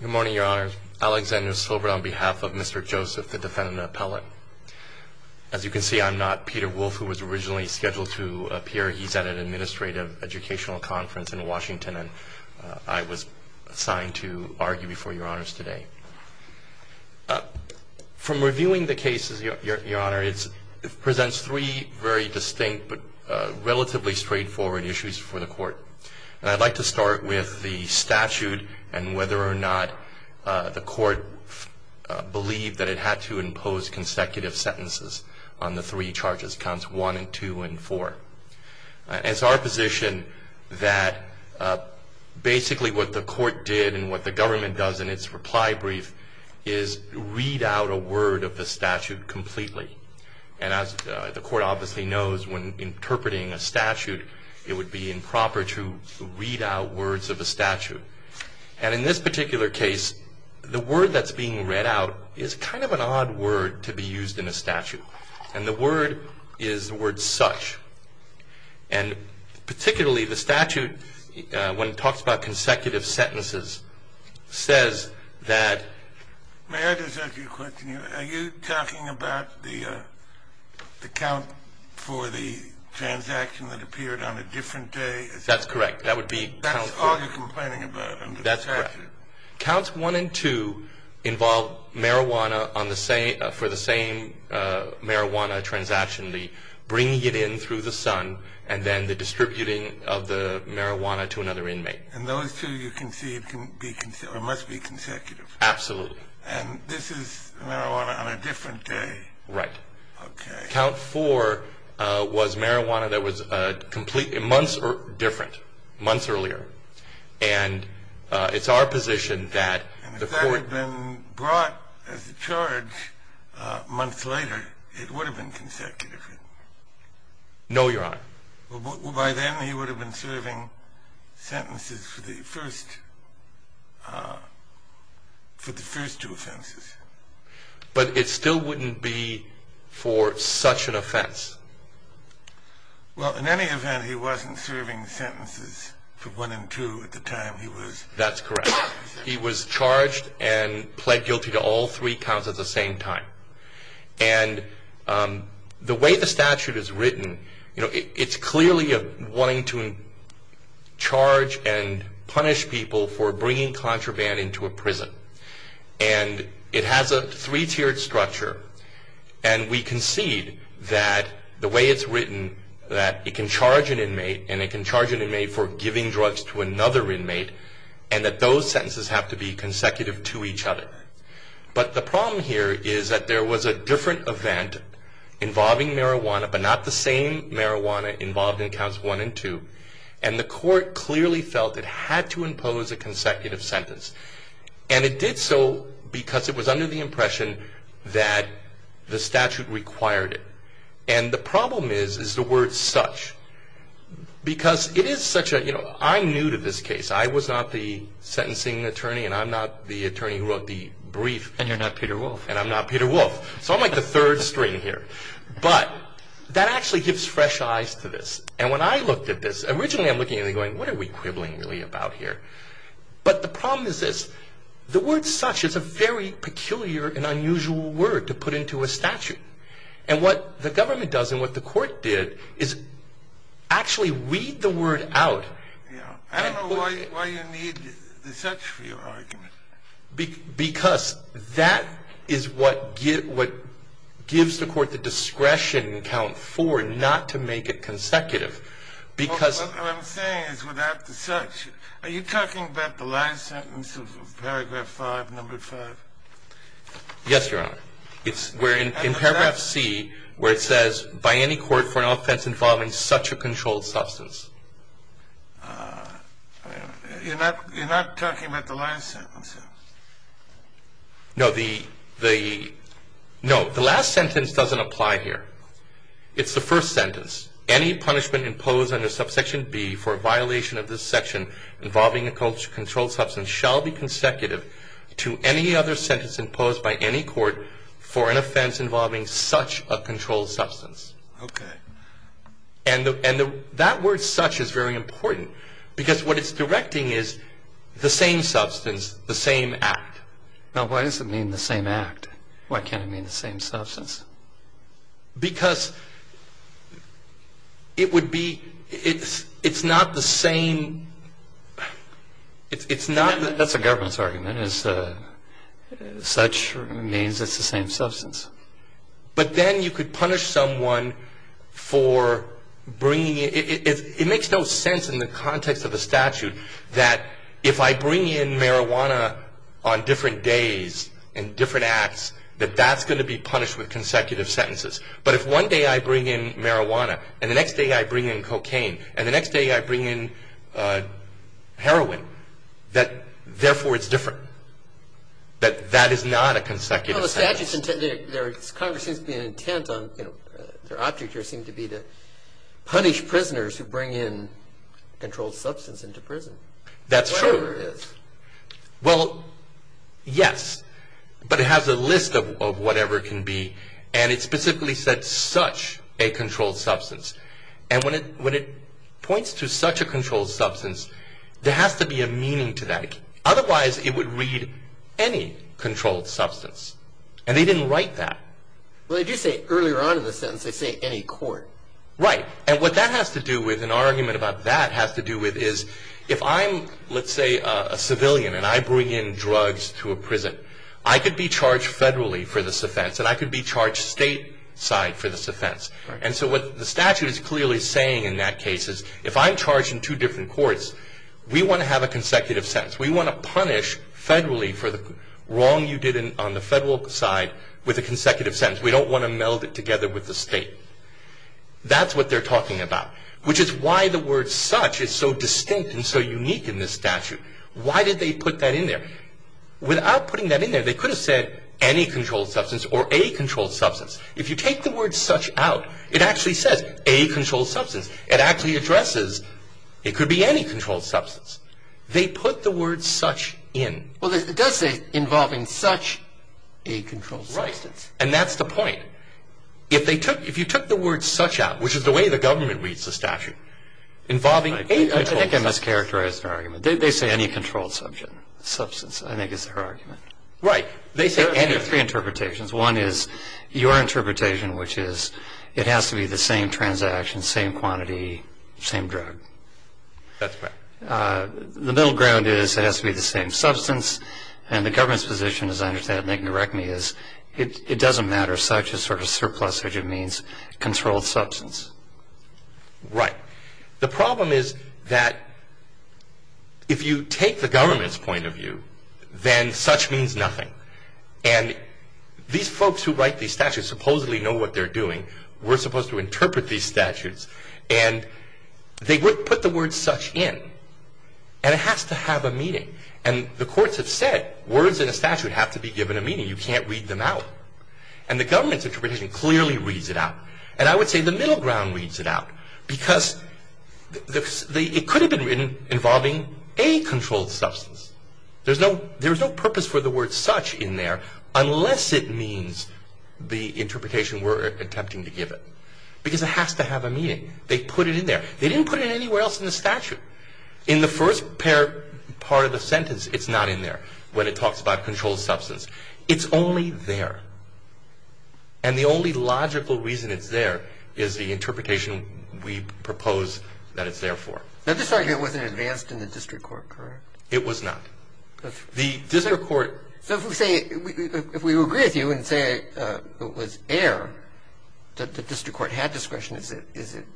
Good morning, Your Honor. Alexander Silver on behalf of Mr. Joseph, the defendant appellate. As you can see, I'm not Peter Wolf, who was originally scheduled to appear. He's at an administrative educational conference in Washington, and I was assigned to argue before Your Honors today. From reviewing the cases, Your Honor, it presents three very distinct but relatively straightforward issues for the court. And I'd like to start with the statute and whether or not the court believed that it had to impose consecutive sentences on the three charges, counts one and two and four. It's our position that basically what the court did and what the government does in its reply brief is read out a word of the statute completely. And as the court obviously knows, when interpreting a statute, it would be improper to read out words of a statute. And in this particular case, the word that's being read out is kind of an odd word to be used in a statute. And the word is the word such. And particularly the statute, when it talks about consecutive sentences, says that... May I just ask you a question? Are you talking about the count for the transaction that appeared on a different day? That's correct. That would be... That's all you're complaining about in the statute? That's correct. Counts one and two involve marijuana for the same marijuana transaction, the bringing it in through the son and then the distributing of the marijuana to another inmate. And those two, you can see, must be consecutive. Absolutely. And this is marijuana on a different day? Right. Okay. Count four was marijuana that was months different, months earlier. And it's our position that... And if that had been brought as a charge months later, it would have been consecutive? No, Your Honor. By then, he would have been serving sentences for the first... for the first two offenses. But it still wouldn't be for such an offense. Well, in any event, he wasn't serving sentences for one and two at the time he was... That's correct. He was serving sentences for one and two. And the way the statute is written, it's clearly wanting to charge and punish people for bringing contraband into a prison. And it has a three-tiered structure. And we concede that the way it's written, that it can charge an inmate, and it can charge an inmate for giving drugs to another inmate, and that those sentences have to be consecutive to each other. But the problem here is that there was a different event involving marijuana, but not the same marijuana involved in counts one and two. And the court clearly felt it had to impose a consecutive sentence. And it did so because it was under the impression that the statute required it. And the problem is, is the word such. Because it is such a... I'm new to this case. I was not the sentencing attorney, and I'm not the attorney who wrote the brief. And you're not Peter Wolf. And I'm not Peter Wolf. So I'm like the third string here. But that actually gives fresh eyes to this. And when I looked at this, originally I'm looking at it going, what are we quibbling really about here? But the problem is this. The word such is a very peculiar and unusual word to put into a statute. And what the government does, and what the court did, is actually read the word out. I don't know why you need the such for your argument. Because that is what gives the court the discretion in count four not to make it consecutive. What I'm saying is without the such, are you talking about the last sentence of paragraph five, number five? Yes, Your Honor. In paragraph C, where it says, by any court for an offense involving such a controlled substance. You're not talking about the last sentence? No, the last sentence doesn't apply here. It's the first sentence. Any controlled substance shall be consecutive to any other sentence imposed by any court for an offense involving such a controlled substance. Okay. And that word such is very important. Because what it's directing is the same substance, the same act. Now why does it mean the same act? Why can't it mean the same substance? Because it would be, it's not the same it's not. That's a government's argument. Such means it's the same substance. But then you could punish someone for bringing, it makes no sense in the context of the statute that if I bring in marijuana on different days and different acts, that that's going to be punished with consecutive sentences. But if one day I bring in marijuana, and the next day I bring in cocaine, and the next day I bring in heroin, that therefore it's different. That that is not a consecutive sentence. Congress seems to be intent on, their objectives seem to be to punish prisoners who bring in controlled substance into prison. That's true. Well, yes. But it has a list of whatever it can be. And it specifically said such a controlled substance. And when it points to such a controlled substance, there has to be a meaning to that. Otherwise it would read any controlled substance. And they didn't write that. Well they do say earlier on in the sentence they say any controlled substance can be brought into a court. Right. And what that has to do with, and our argument about that has to do with is, if I'm, let's say a civilian and I bring in drugs to a prison, I could be charged federally for this offense. And I could be charged state side for this offense. And so what the statute is clearly saying in that case is if I'm charged in two different courts, we want to have a consecutive sentence. We want to punish federally for the wrong you did on the federal side with a consecutive sentence. We don't want to meld it together with the state. That's what they're talking about. Which is why the word such is so distinct and so unique in this statute. Why did they put that in there? Without putting that in there, they could have said any controlled substance or a controlled substance. If you take the word such out, it actually says a controlled substance. It actually does say involving such a controlled substance. Right. And that's the point. If they took, if you took the word such out, which is the way the government reads the statute, involving a controlled substance. I think I mischaracterized the argument. They say any controlled substance I think is their argument. Right. They say any. There are three interpretations. One is your interpretation, which is it has to be the same transaction, same quantity, same drug. That's correct. The middle ground is it has to be the same substance. And the government's position, as I understand it, and they can correct me, is it doesn't matter. Such is sort of surplus, which it means controlled substance. Right. The problem is that if you take the government's point of view, then such means nothing. And these folks who write these statutes supposedly know what they're doing. We're supposed to interpret these statutes. And they put the word such in. And it has to have a meaning. And the courts have said words in a statute have to be given a meaning. You can't read them out. And the government's interpretation clearly reads it out. And I would say the middle ground reads it out. Because it could have been written involving a controlled substance. There's no purpose for the word such in there unless it means the interpretation we're attempting to give it. Because it has to have a meaning. They put it in there. They didn't put it anywhere else in the statute. In the first part of the sentence, it's not in there, when it talks about controlled substance. It's only there. And the only logical reason it's there is the interpretation we propose that it's there for. Now, this argument wasn't advanced in the district court, correct? It was not. The district court So if we say, if we agree with you and say it was error that the district court had discretion, is it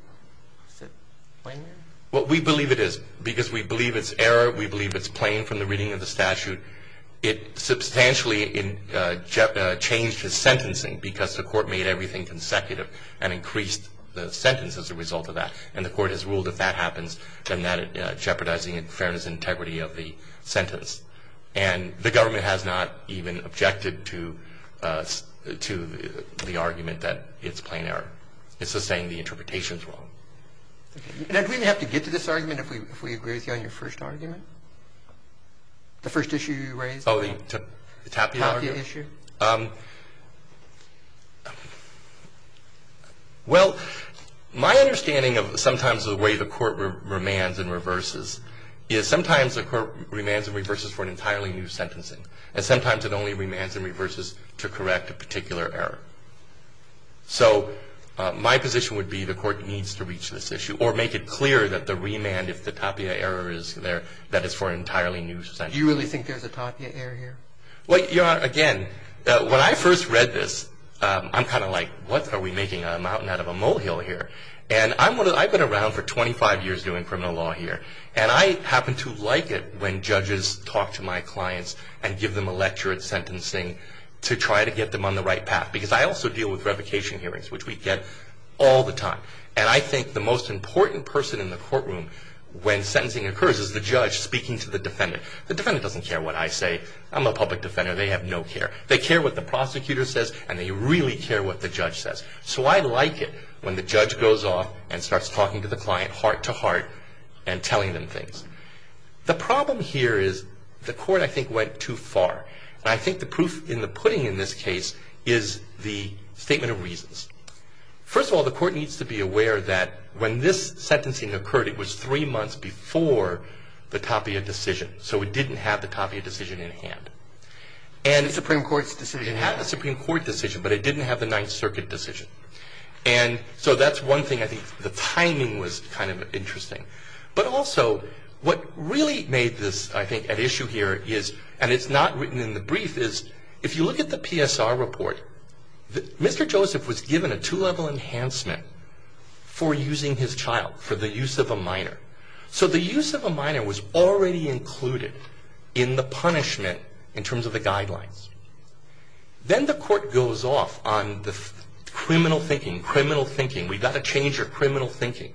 plain error? Well, we believe it is. Because we believe it's error, we believe it's plain from the reading of the statute. It substantially changed his sentencing because the court made everything consecutive and increased the sentence as a result of that. And the court has ruled if that happens, then that jeopardizes the fairness and integrity of the sentence. And the government has not even objected to the argument that it's plain error. It's just saying the interpretation is wrong. Do we have to get to this argument if we agree with you on your first argument? The first issue you raised? Tapia issue? Well, my understanding of sometimes the way the court remands and reverses is sometimes the court remands and reverses for an entirely new sentencing. And sometimes it only remands and reverses to correct a particular error. So my position would be the court needs to reach this issue or make it clear that the remand, if the tapia error is there, that it's for an entirely new sentencing. Do you really think there's a tapia error here? Well, Your Honor, again, when I first read this, I'm kind of like, what are we making out of a mountain out of a molehill here? And I've been around for 25 years doing criminal law here. And I happen to like it when judges talk to my clients and give them a lecture at sentencing to try to get them on the right path. Because I also deal with revocation hearings, which we get all the time. And I think the most important person in the courtroom when sentencing occurs is the judge speaking to the defendant. The defendant doesn't care what I say. I'm a public defender. They have no care. They care what the prosecutor says, and they really care what the judge says. So I like it when the judge goes off and starts talking to the client heart to heart and telling them things. The problem here is the court, I think, went too far. And I think the proof in the pudding in this case is the statement of reasons. First of all, the court needs to be aware that when this sentencing occurred, it was three months before the tapia decision. So it didn't have the tapia decision in hand. It had the Supreme Court decision, but it didn't have the Ninth Circuit decision. And so that's one thing. I think the timing was kind of interesting. But also what really made this, I think, an issue here is, and it's not written in the brief, is if you look at the PSR report, Mr. Joseph was given a two-level enhancement for using his child for the use of a minor. So the use of a minor was already included in the punishment in terms of the guidelines. Then the court goes off on the criminal thinking, criminal thinking. We've got to change your criminal thinking.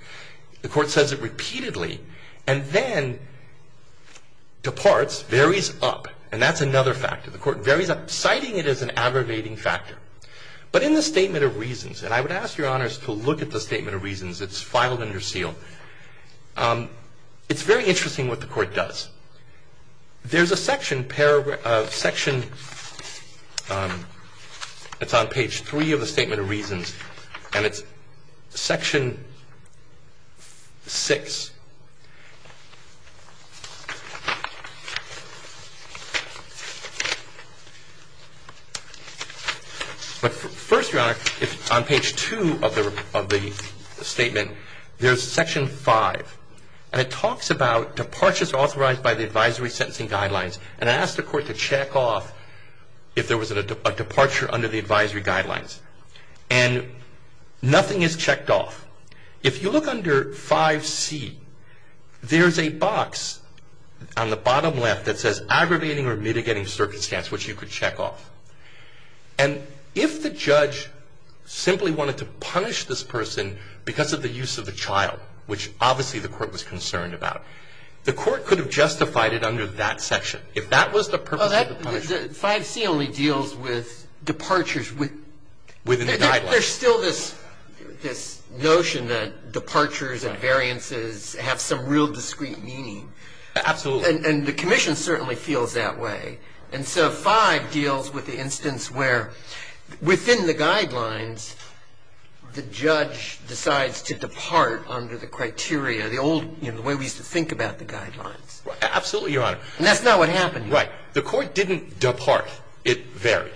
The court says it repeatedly and then departs, varies up. And that's another factor. The court varies up, citing it as an aggravating factor. But in the statement of reasons, and I would ask Your Honors to look at the statement of reasons. It's filed under seal. It's very interesting what the court does. There's a section, paragraph, section that's on page 3 of the statement of reasons, and it's section 6. But first, Your Honor, on page 2 of the statement of reasons, there's section 5, and it talks about departures authorized by the advisory sentencing guidelines. And it asks the court to check off if there was a departure under the advisory guidelines. And nothing is checked off. If you look under 5C, there's a box on the bottom left that says aggravating or mitigating circumstance, which you could check off. And if the judge simply wanted to punish this person because of the use of a child, which obviously the court was concerned about, the court could have justified it under that section. If that was the purpose of the punishment. Well, 5C only deals with departures within the guidelines. There's still this notion that departures and variances have some real discreet meaning. Absolutely. And the commission certainly feels that way. And so 5 deals with the instance where within the guidelines, the judge decides to depart under the criteria, the old, you know, the way we used to think about the guidelines. Absolutely, Your Honor. And that's not what happened. Right. The court didn't depart. It varied.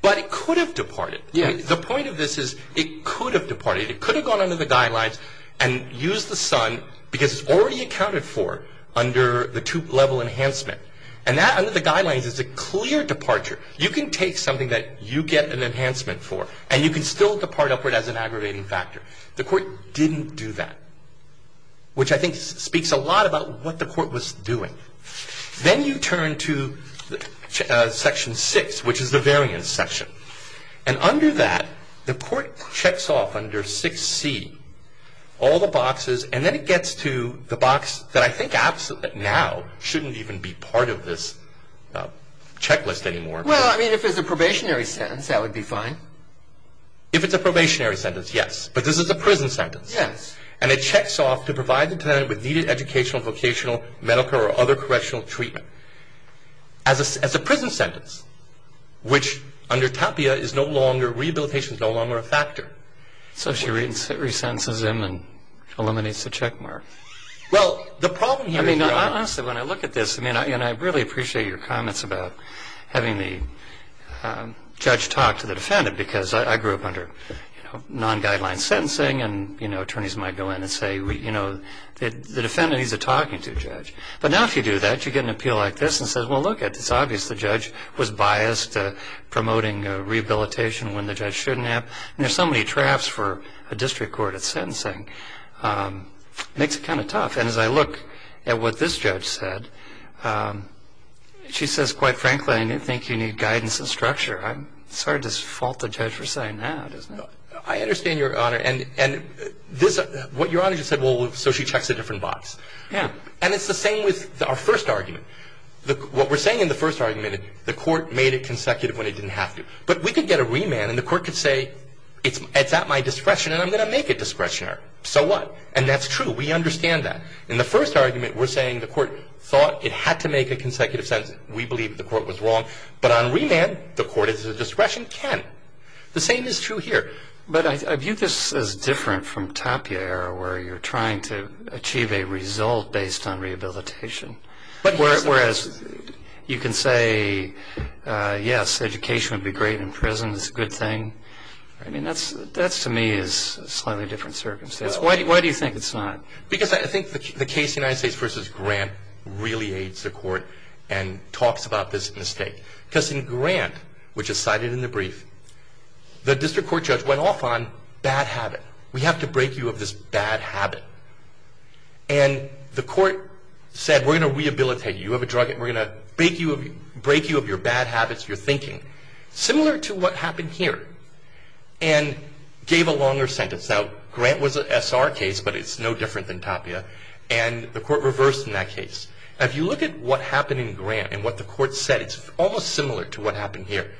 But it could have departed. The point of this is it could have departed. It could have gone under the guidelines and used the son because it's already accounted for under the two-level enhancement. And that under the guidelines is a clear departure. You can take something that you get an enhancement for and you can still depart upward as an aggravating factor. The court didn't do that, which I think speaks a lot about what the court was doing. Then you turn to Section 6, which is the variance section. And under that, the court checks off under 6C all the boxes, and then it gets to the box that I think absolutely now shouldn't even be part of this checklist anymore. Well, I mean, if it's a probationary sentence, that would be fine. If it's a probationary sentence, yes. But this is a prison sentence. Yes. And it checks off to provide the tenant with needed educational, vocational, medical, or other correctional treatment. As a prison sentence, which under TAPIA is no longer, rehabilitation is no longer a factor. So she re-sentences him and eliminates the checkmark. Well, the problem here is Your Honor. I mean, honestly, when I look at this, and I really appreciate your comments about having the judge talk to the defendant, because I grew up under non-guideline sentencing, and attorneys might go in and say, you know, the defendant needs a talking to judge. But now if you do that, you get an appeal like this and say, well, look, it's obvious the judge was biased promoting rehabilitation when the judge shouldn't have. And there's so many drafts for a district court at sentencing. It makes it kind of tough. And as I look at what this judge said, she says, quite frankly, I don't think you need guidance and structure. It's hard to fault the judge for saying that, isn't it? I understand, Your Honor. And what Your Honor just said, well, so she checks a different box. Yeah. And it's the same with our first argument. What we're saying in the first argument, the court made it consecutive when it didn't have to. But we could get a remand and the court could say, it's at my discretion and I'm going to make it discretionary. So what? And that's true. We understand that. In the first argument, we're saying the court thought it had to make a consecutive sentence. We believe the court was wrong. But on remand, the court is at discretion, can. The same is true here. But I view this as different from Tapia era where you're trying to achieve a result based on rehabilitation. Whereas you can say, yes, education would be great and prison is a good thing. I mean, that to me is a slightly different circumstance. Why do you think it's not? Because I think the case United States v. Grant really aids the court and talks about this mistake. Because in Grant, which is cited in the brief, the district court judge went off on bad habit. We have to break you of this bad habit. And the court said, we're going to rehabilitate you. You have a drug and we're going to break you of your bad habits, your thinking. Similar to what happened here. And gave a longer sentence. Now, Grant was an SR case, but it's no different than Tapia. And the court reversed in that case. If you look at what happened in Grant and what the court said, it's almost similar to what happened here.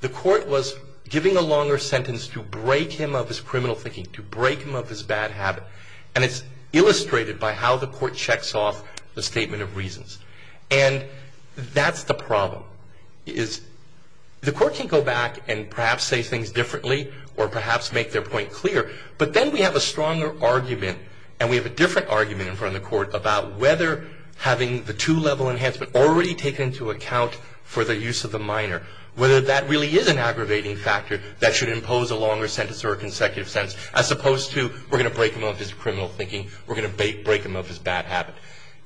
The court was giving a longer sentence to break him of his criminal thinking, to break him of his bad habit. And it's illustrated by how the court checks off the statement of reasons. And that's the problem. The court can go back and perhaps say things differently or perhaps make their point clear. But then we have a stronger argument, and we have a different argument in front of the court, about whether having the two-level enhancement already taken into account for the use of the minor, whether that really is an aggravating factor that should impose a longer sentence or a consecutive sentence, as opposed to we're going to break him of his criminal thinking, we're going to break him of his bad habit.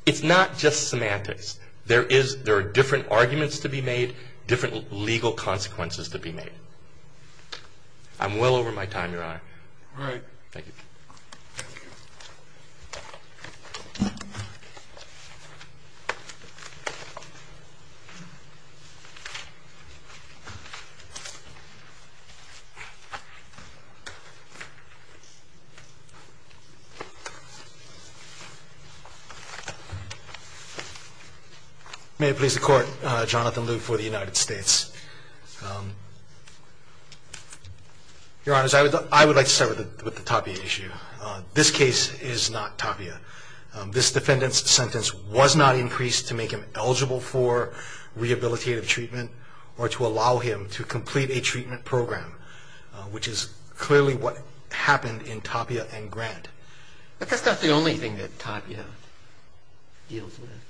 It's not just semantics. There are different arguments to be made, different legal consequences to be made. I'm well over my time, Your Honor. Thank you. May it please the Court, Jonathan Liu for the United States. Your Honors, I would like to start with the Tapia issue. This case is not Tapia. This defendant's sentence was not increased to make him eligible for rehabilitative treatment or to allow him to complete a treatment program, which is clearly what happened in Tapia and Grant. But that's not the only thing that Tapia deals with.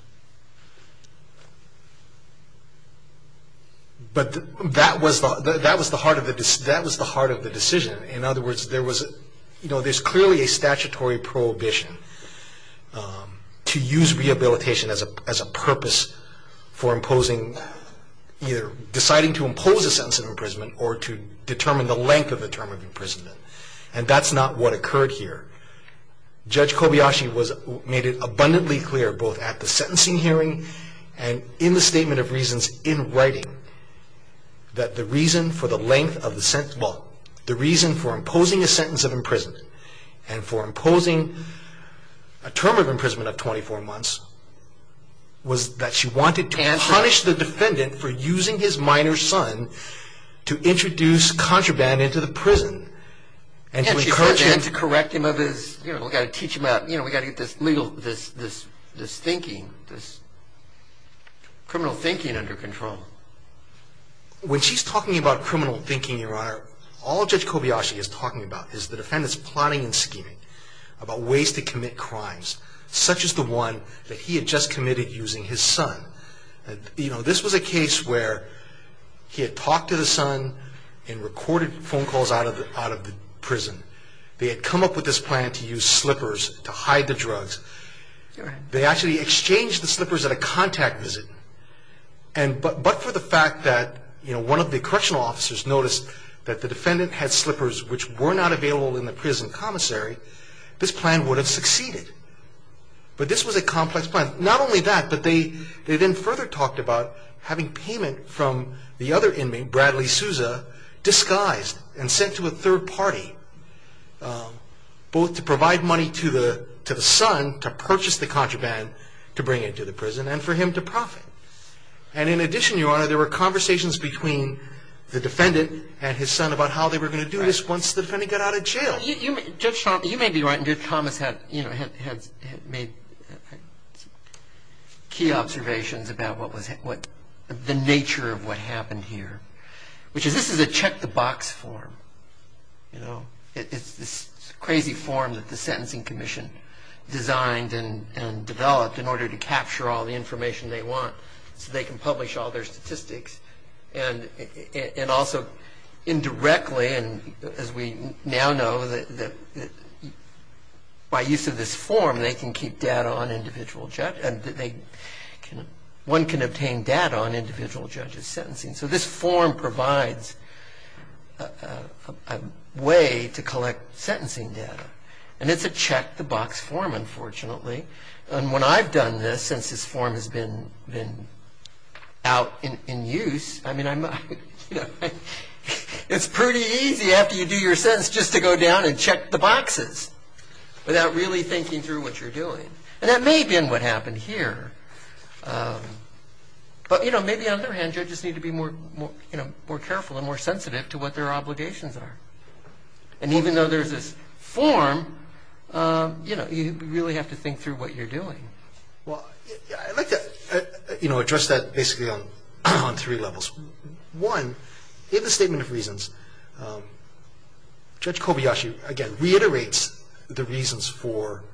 But that was the heart of the decision. In other words, there's clearly a statutory prohibition to use rehabilitation as a purpose for imposing, either deciding to impose a sentence of imprisonment or to determine the length of a term of imprisonment. And that's not what occurred here. Judge Kobayashi made it abundantly clear, both at the sentencing hearing and in the Statement of Reasons in writing, that the reason for imposing a sentence of imprisonment and for imposing a term of imprisonment of 24 months was that she wanted to punish the defendant for using his minor son to introduce contraband into the prison and to encourage him... And she said then to correct him of his... You know, we've got to teach him about... You know, we've got to get this legal... this thinking, this criminal thinking under control. When she's talking about criminal thinking, Your Honor, all Judge Kobayashi is talking about is the defendant's plotting and scheming about ways to commit crimes, such as the one that he had just committed using his son. You know, this was a case where he had talked to the son and recorded phone calls out of the prison. They had come up with this plan to use slippers to hide the drugs. They actually exchanged the slippers at a contact visit. But for the fact that, you know, one of the correctional officers noticed that the defendant had slippers which were not available in the prison commissary, this plan would have succeeded. But this was a complex plan. Not only that, but they then further talked about having payment from the other inmate, Bradley Souza, disguised and sent to a third party, both to provide money to the son to purchase the contraband to bring it to the prison and for him to profit. And in addition, Your Honor, there were conversations between the defendant and his son about how they were going to do this once the defendant got out of jail. Well, Judge Thomas, you may be right. Judge Thomas had made key observations about what was the nature of what happened here, which is this is a check-the-box form, you know. It's this crazy form that the Sentencing Commission designed and developed in order to capture all the information they want so they can publish all their statistics. And also, indirectly, as we now know, by use of this form, they can keep data on individual judges and one can obtain data on individual judges' sentencing. So this form provides a way to collect sentencing data. And it's a check-the-box form, unfortunately. And when I've done this, since this form has been out in use, I mean, it's pretty easy after you do your sentence just to go down and check the boxes without really thinking through what you're doing. And that may have been what happened here. But, you know, maybe on the other hand, judges need to be more careful and more sensitive to what their obligations are. And even though there's this form, you know, you really have to think through what you're doing. Well, I'd like to address that basically on three levels. One, in the Statement of Reasons, Judge Kobayashi, again, reiterates the reasons for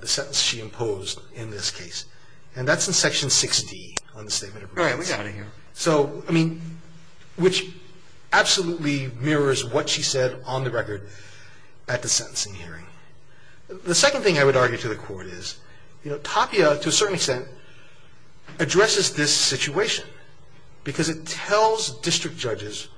the sentence she imposed in this case. And that's in Section 6D on the Statement of Reasons. All right, we got it here. So, I mean, which absolutely mirrors what she said on the record at the sentencing hearing. The second thing I would argue to the Court is, you know, TAPIA, to a certain extent, addresses this situation because it tells district judges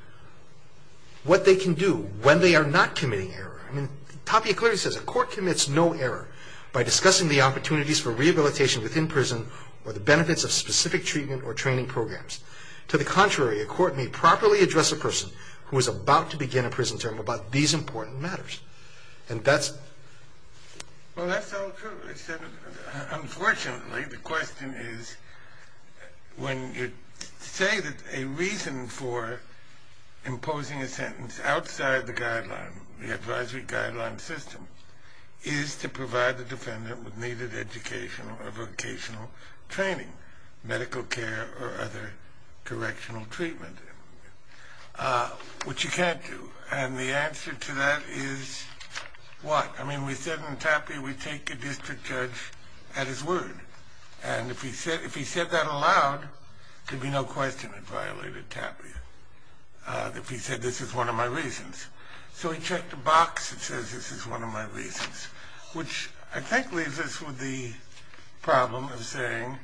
what they can do when they are not committing error. I mean, TAPIA clearly says a court commits no error by discussing the opportunities for rehabilitation within prison or the benefits of specific treatment or training programs. To the contrary, a court may properly address a person who is about to begin a prison term about these important matters. And that's... Well, that's all true. Unfortunately, the question is, when you say that a reason for imposing a sentence outside the guideline, the advisory guideline system, is to provide the defendant with needed educational or vocational training, medical care or other correctional treatment, which you can't do. And the answer to that is what? I mean, we said in TAPIA we take a district judge at his word. And if he said that aloud, there'd be no question it violated TAPIA, if he said, this is one of my reasons. So he checked a box that says, this is one of my reasons, which I think leaves us with the problem of saying,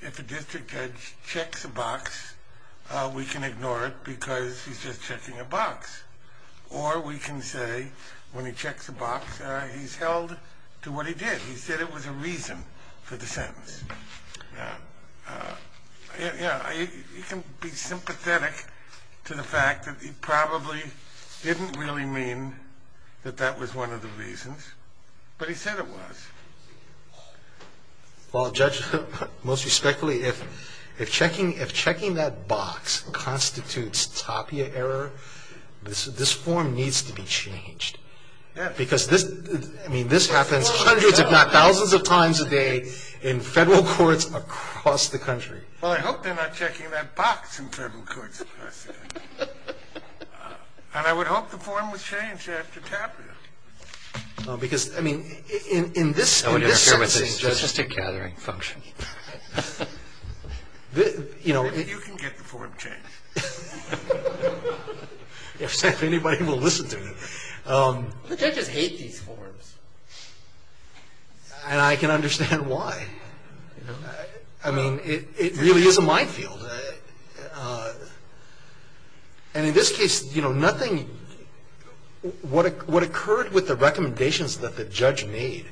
if a district judge checks a box, we can ignore it because he's just checking a box. Or we can say, when he checks a box, he's held to what he did. He said it was a reason for the sentence. He can be sympathetic to the fact that he probably didn't really mean that that was one of the reasons, but he said it was. Well, Judge, most respectfully, if checking that box constitutes TAPIA error, this form needs to be changed. Because this happens hundreds, if not thousands of times a day in federal courts across the country. Well, I hope they're not checking that box in federal courts. And I would hope the form was changed after TAPIA. Because, I mean, in this- I wouldn't interfere with the judge's tick-catering function. You know- You can get the form changed. If anybody will listen to me. The judges hate these forms. And I can understand why. I mean, it really is a minefield. And in this case, you know, nothing- What occurred with the recommendations that the judge made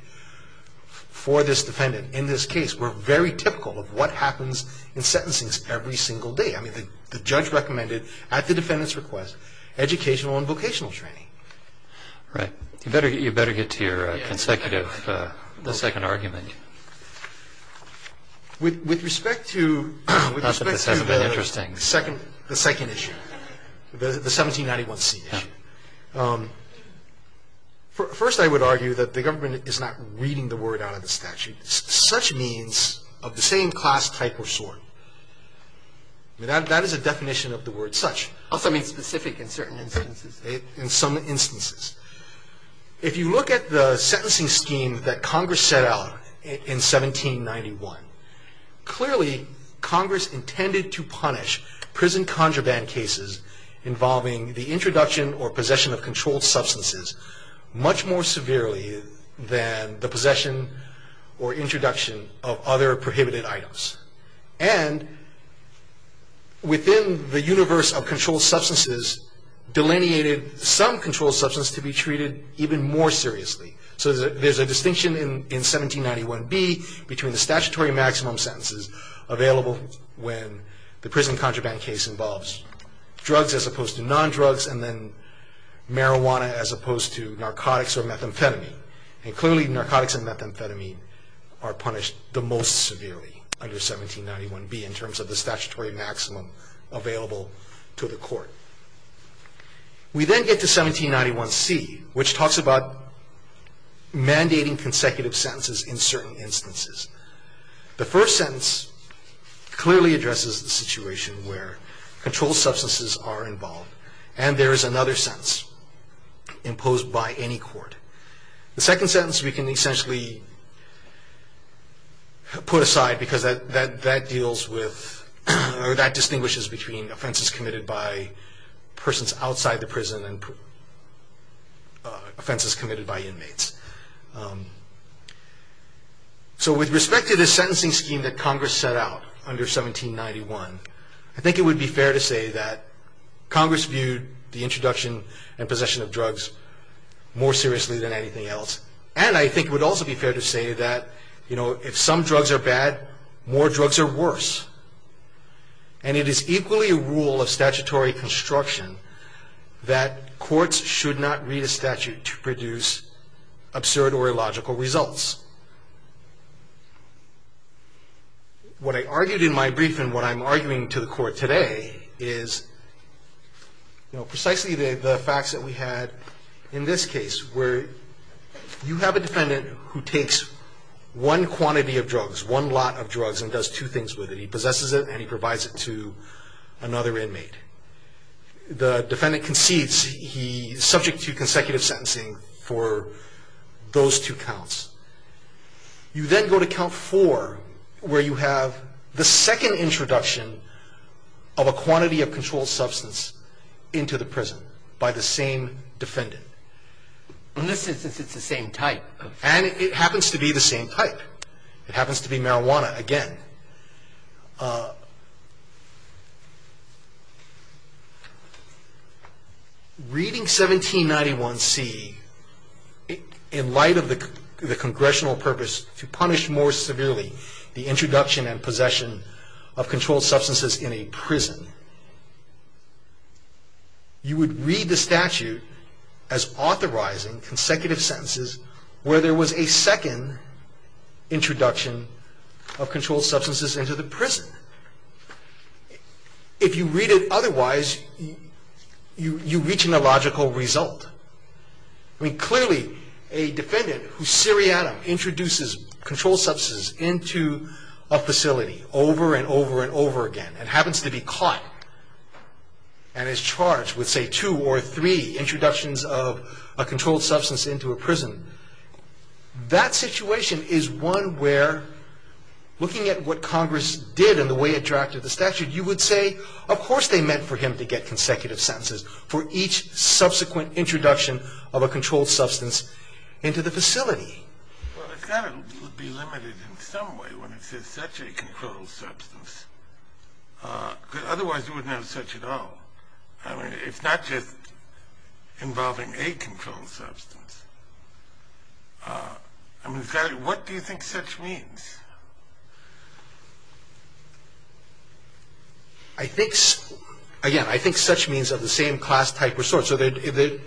for this defendant in this case were very typical of what happens in sentencing every single day. I mean, the judge recommended, at the defendant's request, educational and vocational training. Right. You better get to your consecutive- The second argument. With respect to- Not that this hasn't been interesting. The second issue. The 1791C issue. First, I would argue that the government is not reading the word out of the statute. Such means of the same class, type, or sort. That is a definition of the word such. Also means specific in certain instances. If you look at the sentencing scheme that Congress set out in 1791, clearly, Congress intended to punish prison contraband cases involving the introduction or possession of controlled substances much more severely than the possession or introduction of other prohibited items. And within the universe of controlled substances, Congress delineated some controlled substance to be treated even more seriously. So there's a distinction in 1791B between the statutory maximum sentences available when the prison contraband case involves drugs as opposed to non-drugs and then marijuana as opposed to narcotics or methamphetamine. And clearly, narcotics and methamphetamine are punished the most severely under 1791B in terms of the statutory maximum available to the court. We then get to 1791C, which talks about mandating consecutive sentences in certain instances. The first sentence clearly addresses the situation where controlled substances are involved. And there is another sentence imposed by any court. The second sentence we can essentially put aside because that distinguishes between offenses committed by persons outside the prison and offenses committed by inmates. So with respect to the sentencing scheme that Congress set out under 1791, I think it would be fair to say that Congress viewed the introduction and possession of drugs more seriously than anything else. And I think it would also be fair to say that if some drugs are bad, more drugs are worse. And it is equally a rule of statutory construction that courts should not read a statute to produce absurd or illogical results. What I argued in my brief and what I'm arguing to the court today is precisely the facts that we had in this case where you have a defendant who takes one quantity of drugs, one lot of drugs, and does two things with it. He possesses it and he provides it to another inmate. The defendant concedes. He is subject to consecutive sentencing for those two counts. You then go to count four where you have the second introduction of a quantity of controlled substance into the prison by the same defendant. In this instance, it's the same type. And it happens to be the same type. It happens to be marijuana again. Reading 1791C in light of the congressional purpose to punish more severely the introduction and possession of controlled substances in a prison, you would read the statute as authorizing consecutive sentences where there was a second introduction of controlled substances into the prison. If you read it otherwise, you reach an illogical result. I mean, clearly a defendant whose syrianum introduces controlled substances into a facility over and over and over again and happens to be caught and is charged with, say, two or three introductions of a controlled substance into a prison. That situation is one where, looking at what Congress did and the way it drafted the statute, you would say, of course they meant for him to get consecutive sentences for each subsequent introduction of a controlled substance into the facility. Well, it's got to be limited in some way when it says such a controlled substance. Otherwise, you wouldn't have such at all. I mean, it's not just involving a controlled substance. I mean, what do you think such means? I think, again, I think such means of the same class, type, or sort. In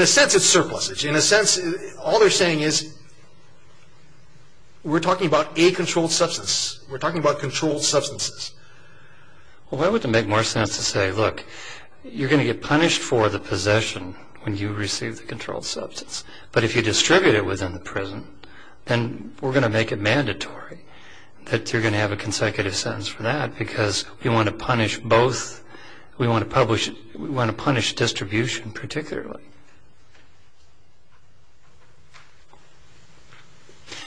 a sense, it's surplusage. In a sense, all they're saying is we're talking about a controlled substance. We're talking about controlled substances. Well, why wouldn't it make more sense to say, look, you're going to get punished for the possession when you receive the controlled substance, but if you distribute it within the prison, then we're going to make it mandatory that you're going to have a consecutive sentence for that because we want to punish distribution particularly.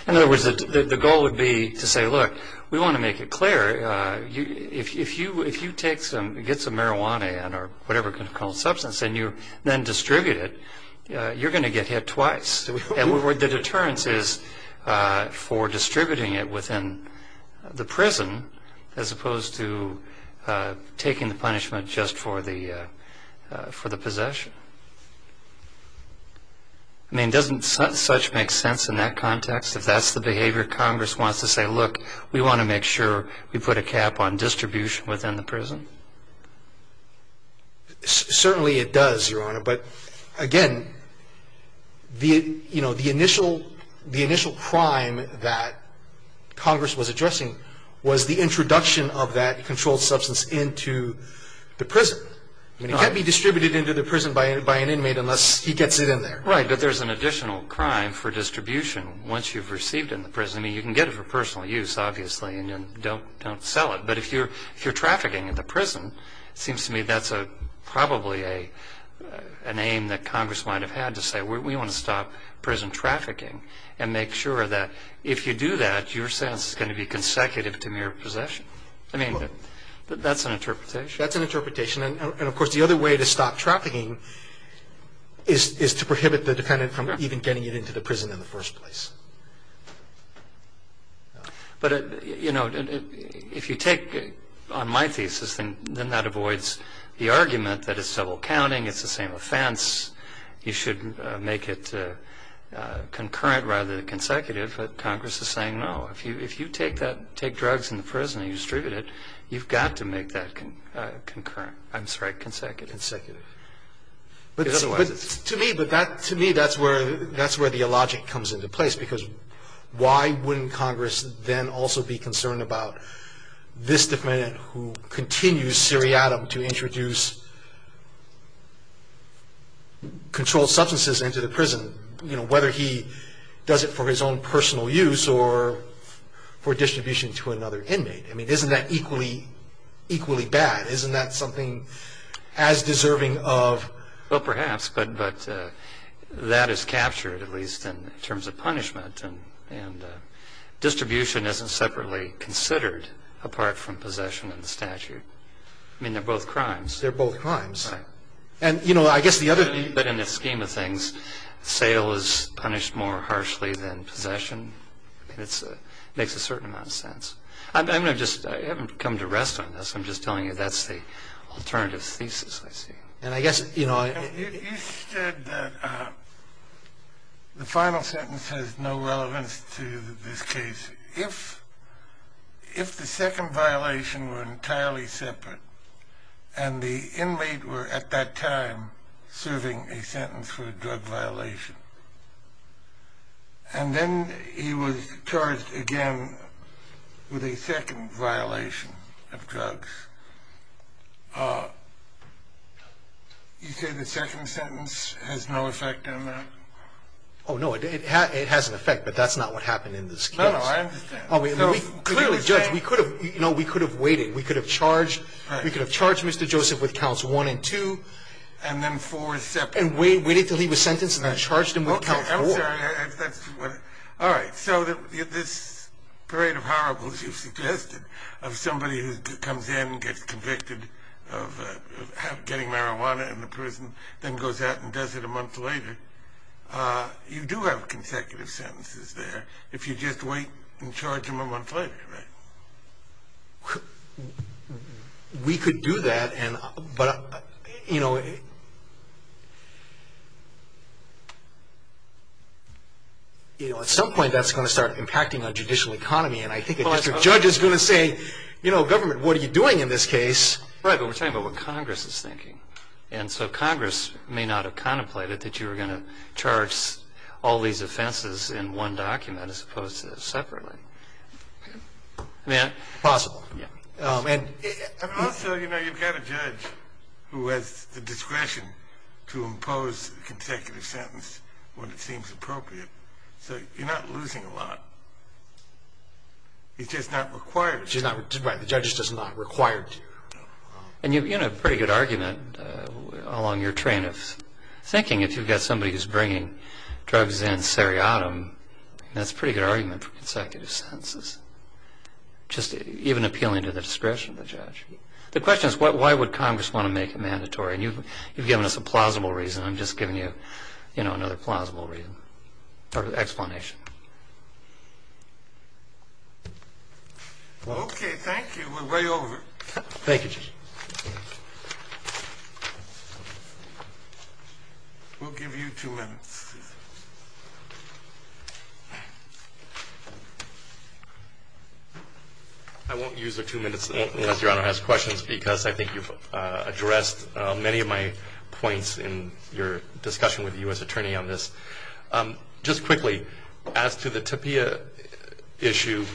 In other words, the goal would be to say, look, we want to make it clear, if you get some marijuana in or whatever controlled substance and you then distribute it, you're going to get hit twice. The deterrence is for distributing it within the prison as opposed to taking the punishment just for the possession. I mean, doesn't such make sense in that context? If that's the behavior Congress wants to say, look, we want to make sure we put a cap on distribution within the prison? Certainly it does, Your Honor. But, again, the initial crime that Congress was addressing was the introduction of that controlled substance into the prison. It can't be distributed into the prison by an inmate unless he gets it in there. Right, but there's an additional crime for distribution once you've received it in the prison. I mean, you can get it for personal use, obviously, and then don't sell it. But if you're trafficking in the prison, it seems to me that's probably an aim that Congress might have had to say, we want to stop prison trafficking and make sure that if you do that, your sentence is going to be consecutive to mere possession. I mean, that's an interpretation. That's an interpretation. And, of course, the other way to stop trafficking is to prohibit the defendant from even getting it into the prison in the first place. But, you know, if you take on my thesis, then that avoids the argument that it's double counting, it's the same offense, you should make it concurrent rather than consecutive. But Congress is saying, no, if you take drugs in the prison and you distribute it, you've got to make that concurrent. I'm sorry, consecutive. To me, that's where the logic comes into place, because why wouldn't Congress then also be concerned about this defendant who continues seriatim to introduce controlled substances into the prison, whether he does it for his own personal use or for distribution to another inmate. I mean, isn't that equally bad? Isn't that something as deserving of? Well, perhaps. But that is captured, at least, in terms of punishment. And distribution isn't separately considered apart from possession and statute. I mean, they're both crimes. They're both crimes. Right. And, you know, I guess the other thing. But in the scheme of things, sale is punished more harshly than possession. It makes a certain amount of sense. I haven't come to rest on this. I'm just telling you that's the alternative thesis I see. And I guess, you know. You said that the final sentence has no relevance to this case. If the second violation were entirely separate and the inmate were at that time serving a sentence for a drug violation and then he was charged again with a second violation of drugs, you say the second sentence has no effect on that? Oh, no. It has an effect, but that's not what happened in this case. No, no. I understand. Clearly, Judge, we could have waited. We could have charged Mr. Joseph with counts one and two. And then four separate. And waited until he was sentenced and then charged him with counts four. Okay. I'm sorry. All right. So this parade of horribles you've suggested of somebody who comes in, gets convicted of getting marijuana in the prison, then goes out and does it a month later, you do have consecutive sentences there if you just wait and charge him a month later, right? We could do that. But, you know, at some point that's going to start impacting our judicial economy. And I think if the judge is going to say, you know, government, what are you doing in this case? Right, but we're talking about what Congress is thinking. And so Congress may not have contemplated that you were going to charge all these offenses in one document as opposed to separately. Possible. And also, you know, you've got a judge who has the discretion to impose a consecutive sentence when it seems appropriate. So you're not losing a lot. It's just not required. Right. The judge does not require it. And you have a pretty good argument along your train of thinking if you've got somebody who's bringing drugs in seriatim. That's a pretty good argument for consecutive sentences. Just even appealing to the discretion of the judge. The question is why would Congress want to make it mandatory? And you've given us a plausible reason. I'm just giving you, you know, another plausible reason or explanation. Okay, thank you. We're way over. Thank you, Judge. We'll give you two minutes. I won't use the two minutes unless Your Honor has questions because I think you've addressed many of my points in your discussion with the U.S. attorney on this. Just quickly, as to the TAPIA issue,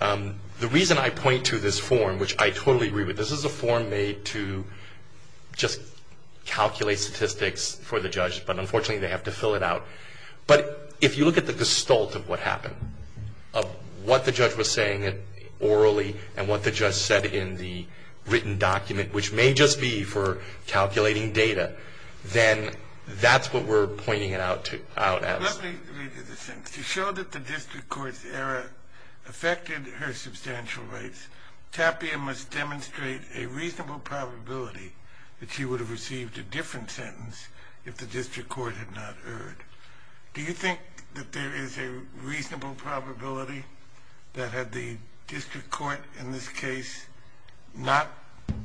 the reason I point to this form, which I totally agree with, this is a form made to just calculate statistics for the judge, but unfortunately they have to fill it out. But if you look at the gestalt of what happened, of what the judge was saying orally and what the judge said in the written document, which may just be for calculating data, then that's what we're pointing it out as. Let me read you the sentence. To show that the district court's error affected her substantial rights, TAPIA must demonstrate a reasonable probability that she would have received a different sentence if the district court had not erred. Do you think that there is a reasonable probability that had the district court in this case not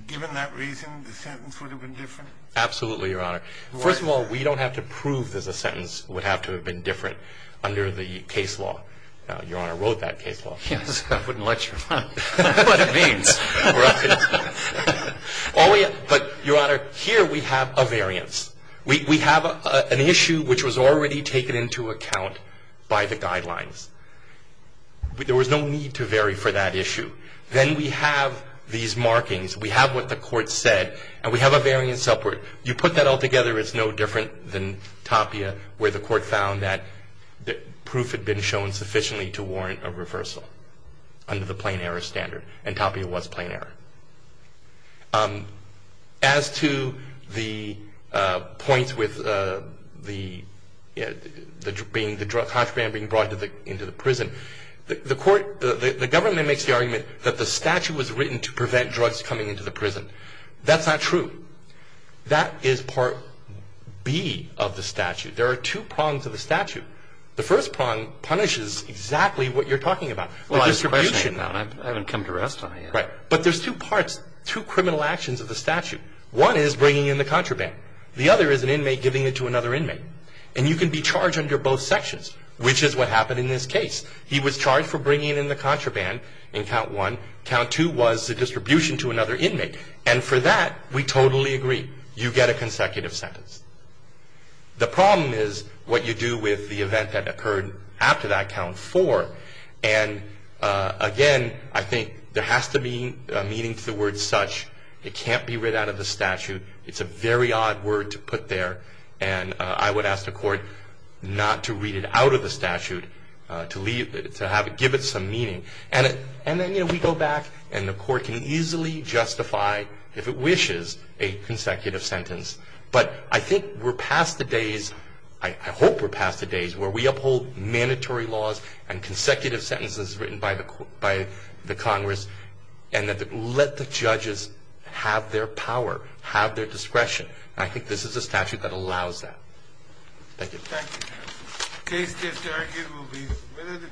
given that reason, the sentence would have been different? Absolutely, Your Honor. First of all, we don't have to prove that the sentence would have to have been different under the case law. Your Honor wrote that case law. Yes, I wouldn't let you run. That's what it means. But, Your Honor, here we have a variance. We have an issue which was already taken into account by the guidelines. There was no need to vary for that issue. Then we have these markings, we have what the court said, and we have a variance upward. You put that all together, it's no different than TAPIA, where the court found that the proof had been shown sufficiently to warrant a reversal under the plain error standard, and TAPIA was plain error. As to the points with the contraband being brought into the prison, the government makes the argument that the statute was written to prevent drugs coming into the prison. That's not true. That is Part B of the statute. There are two prongs of the statute. The first prong punishes exactly what you're talking about. I haven't come to rest on it yet. But there's two parts, two criminal actions of the statute. One is bringing in the contraband. The other is an inmate giving it to another inmate. And you can be charged under both sections, which is what happened in this case. He was charged for bringing in the contraband in Count 1. Count 2 was the distribution to another inmate. And for that, we totally agree. You get a consecutive sentence. The problem is what you do with the event that occurred after that, Count 4, and, again, I think there has to be a meaning to the word such. It can't be read out of the statute. It's a very odd word to put there, and I would ask the court not to read it out of the statute, to give it some meaning. And then, you know, we go back, and the court can easily justify, if it wishes, a consecutive sentence. But I think we're past the days, I hope we're past the days, where we uphold mandatory laws and consecutive sentences written by the Congress and let the judges have their power, have their discretion. And I think this is a statute that allows that. Thank you. Thank you, counsel. The case this time will be with the...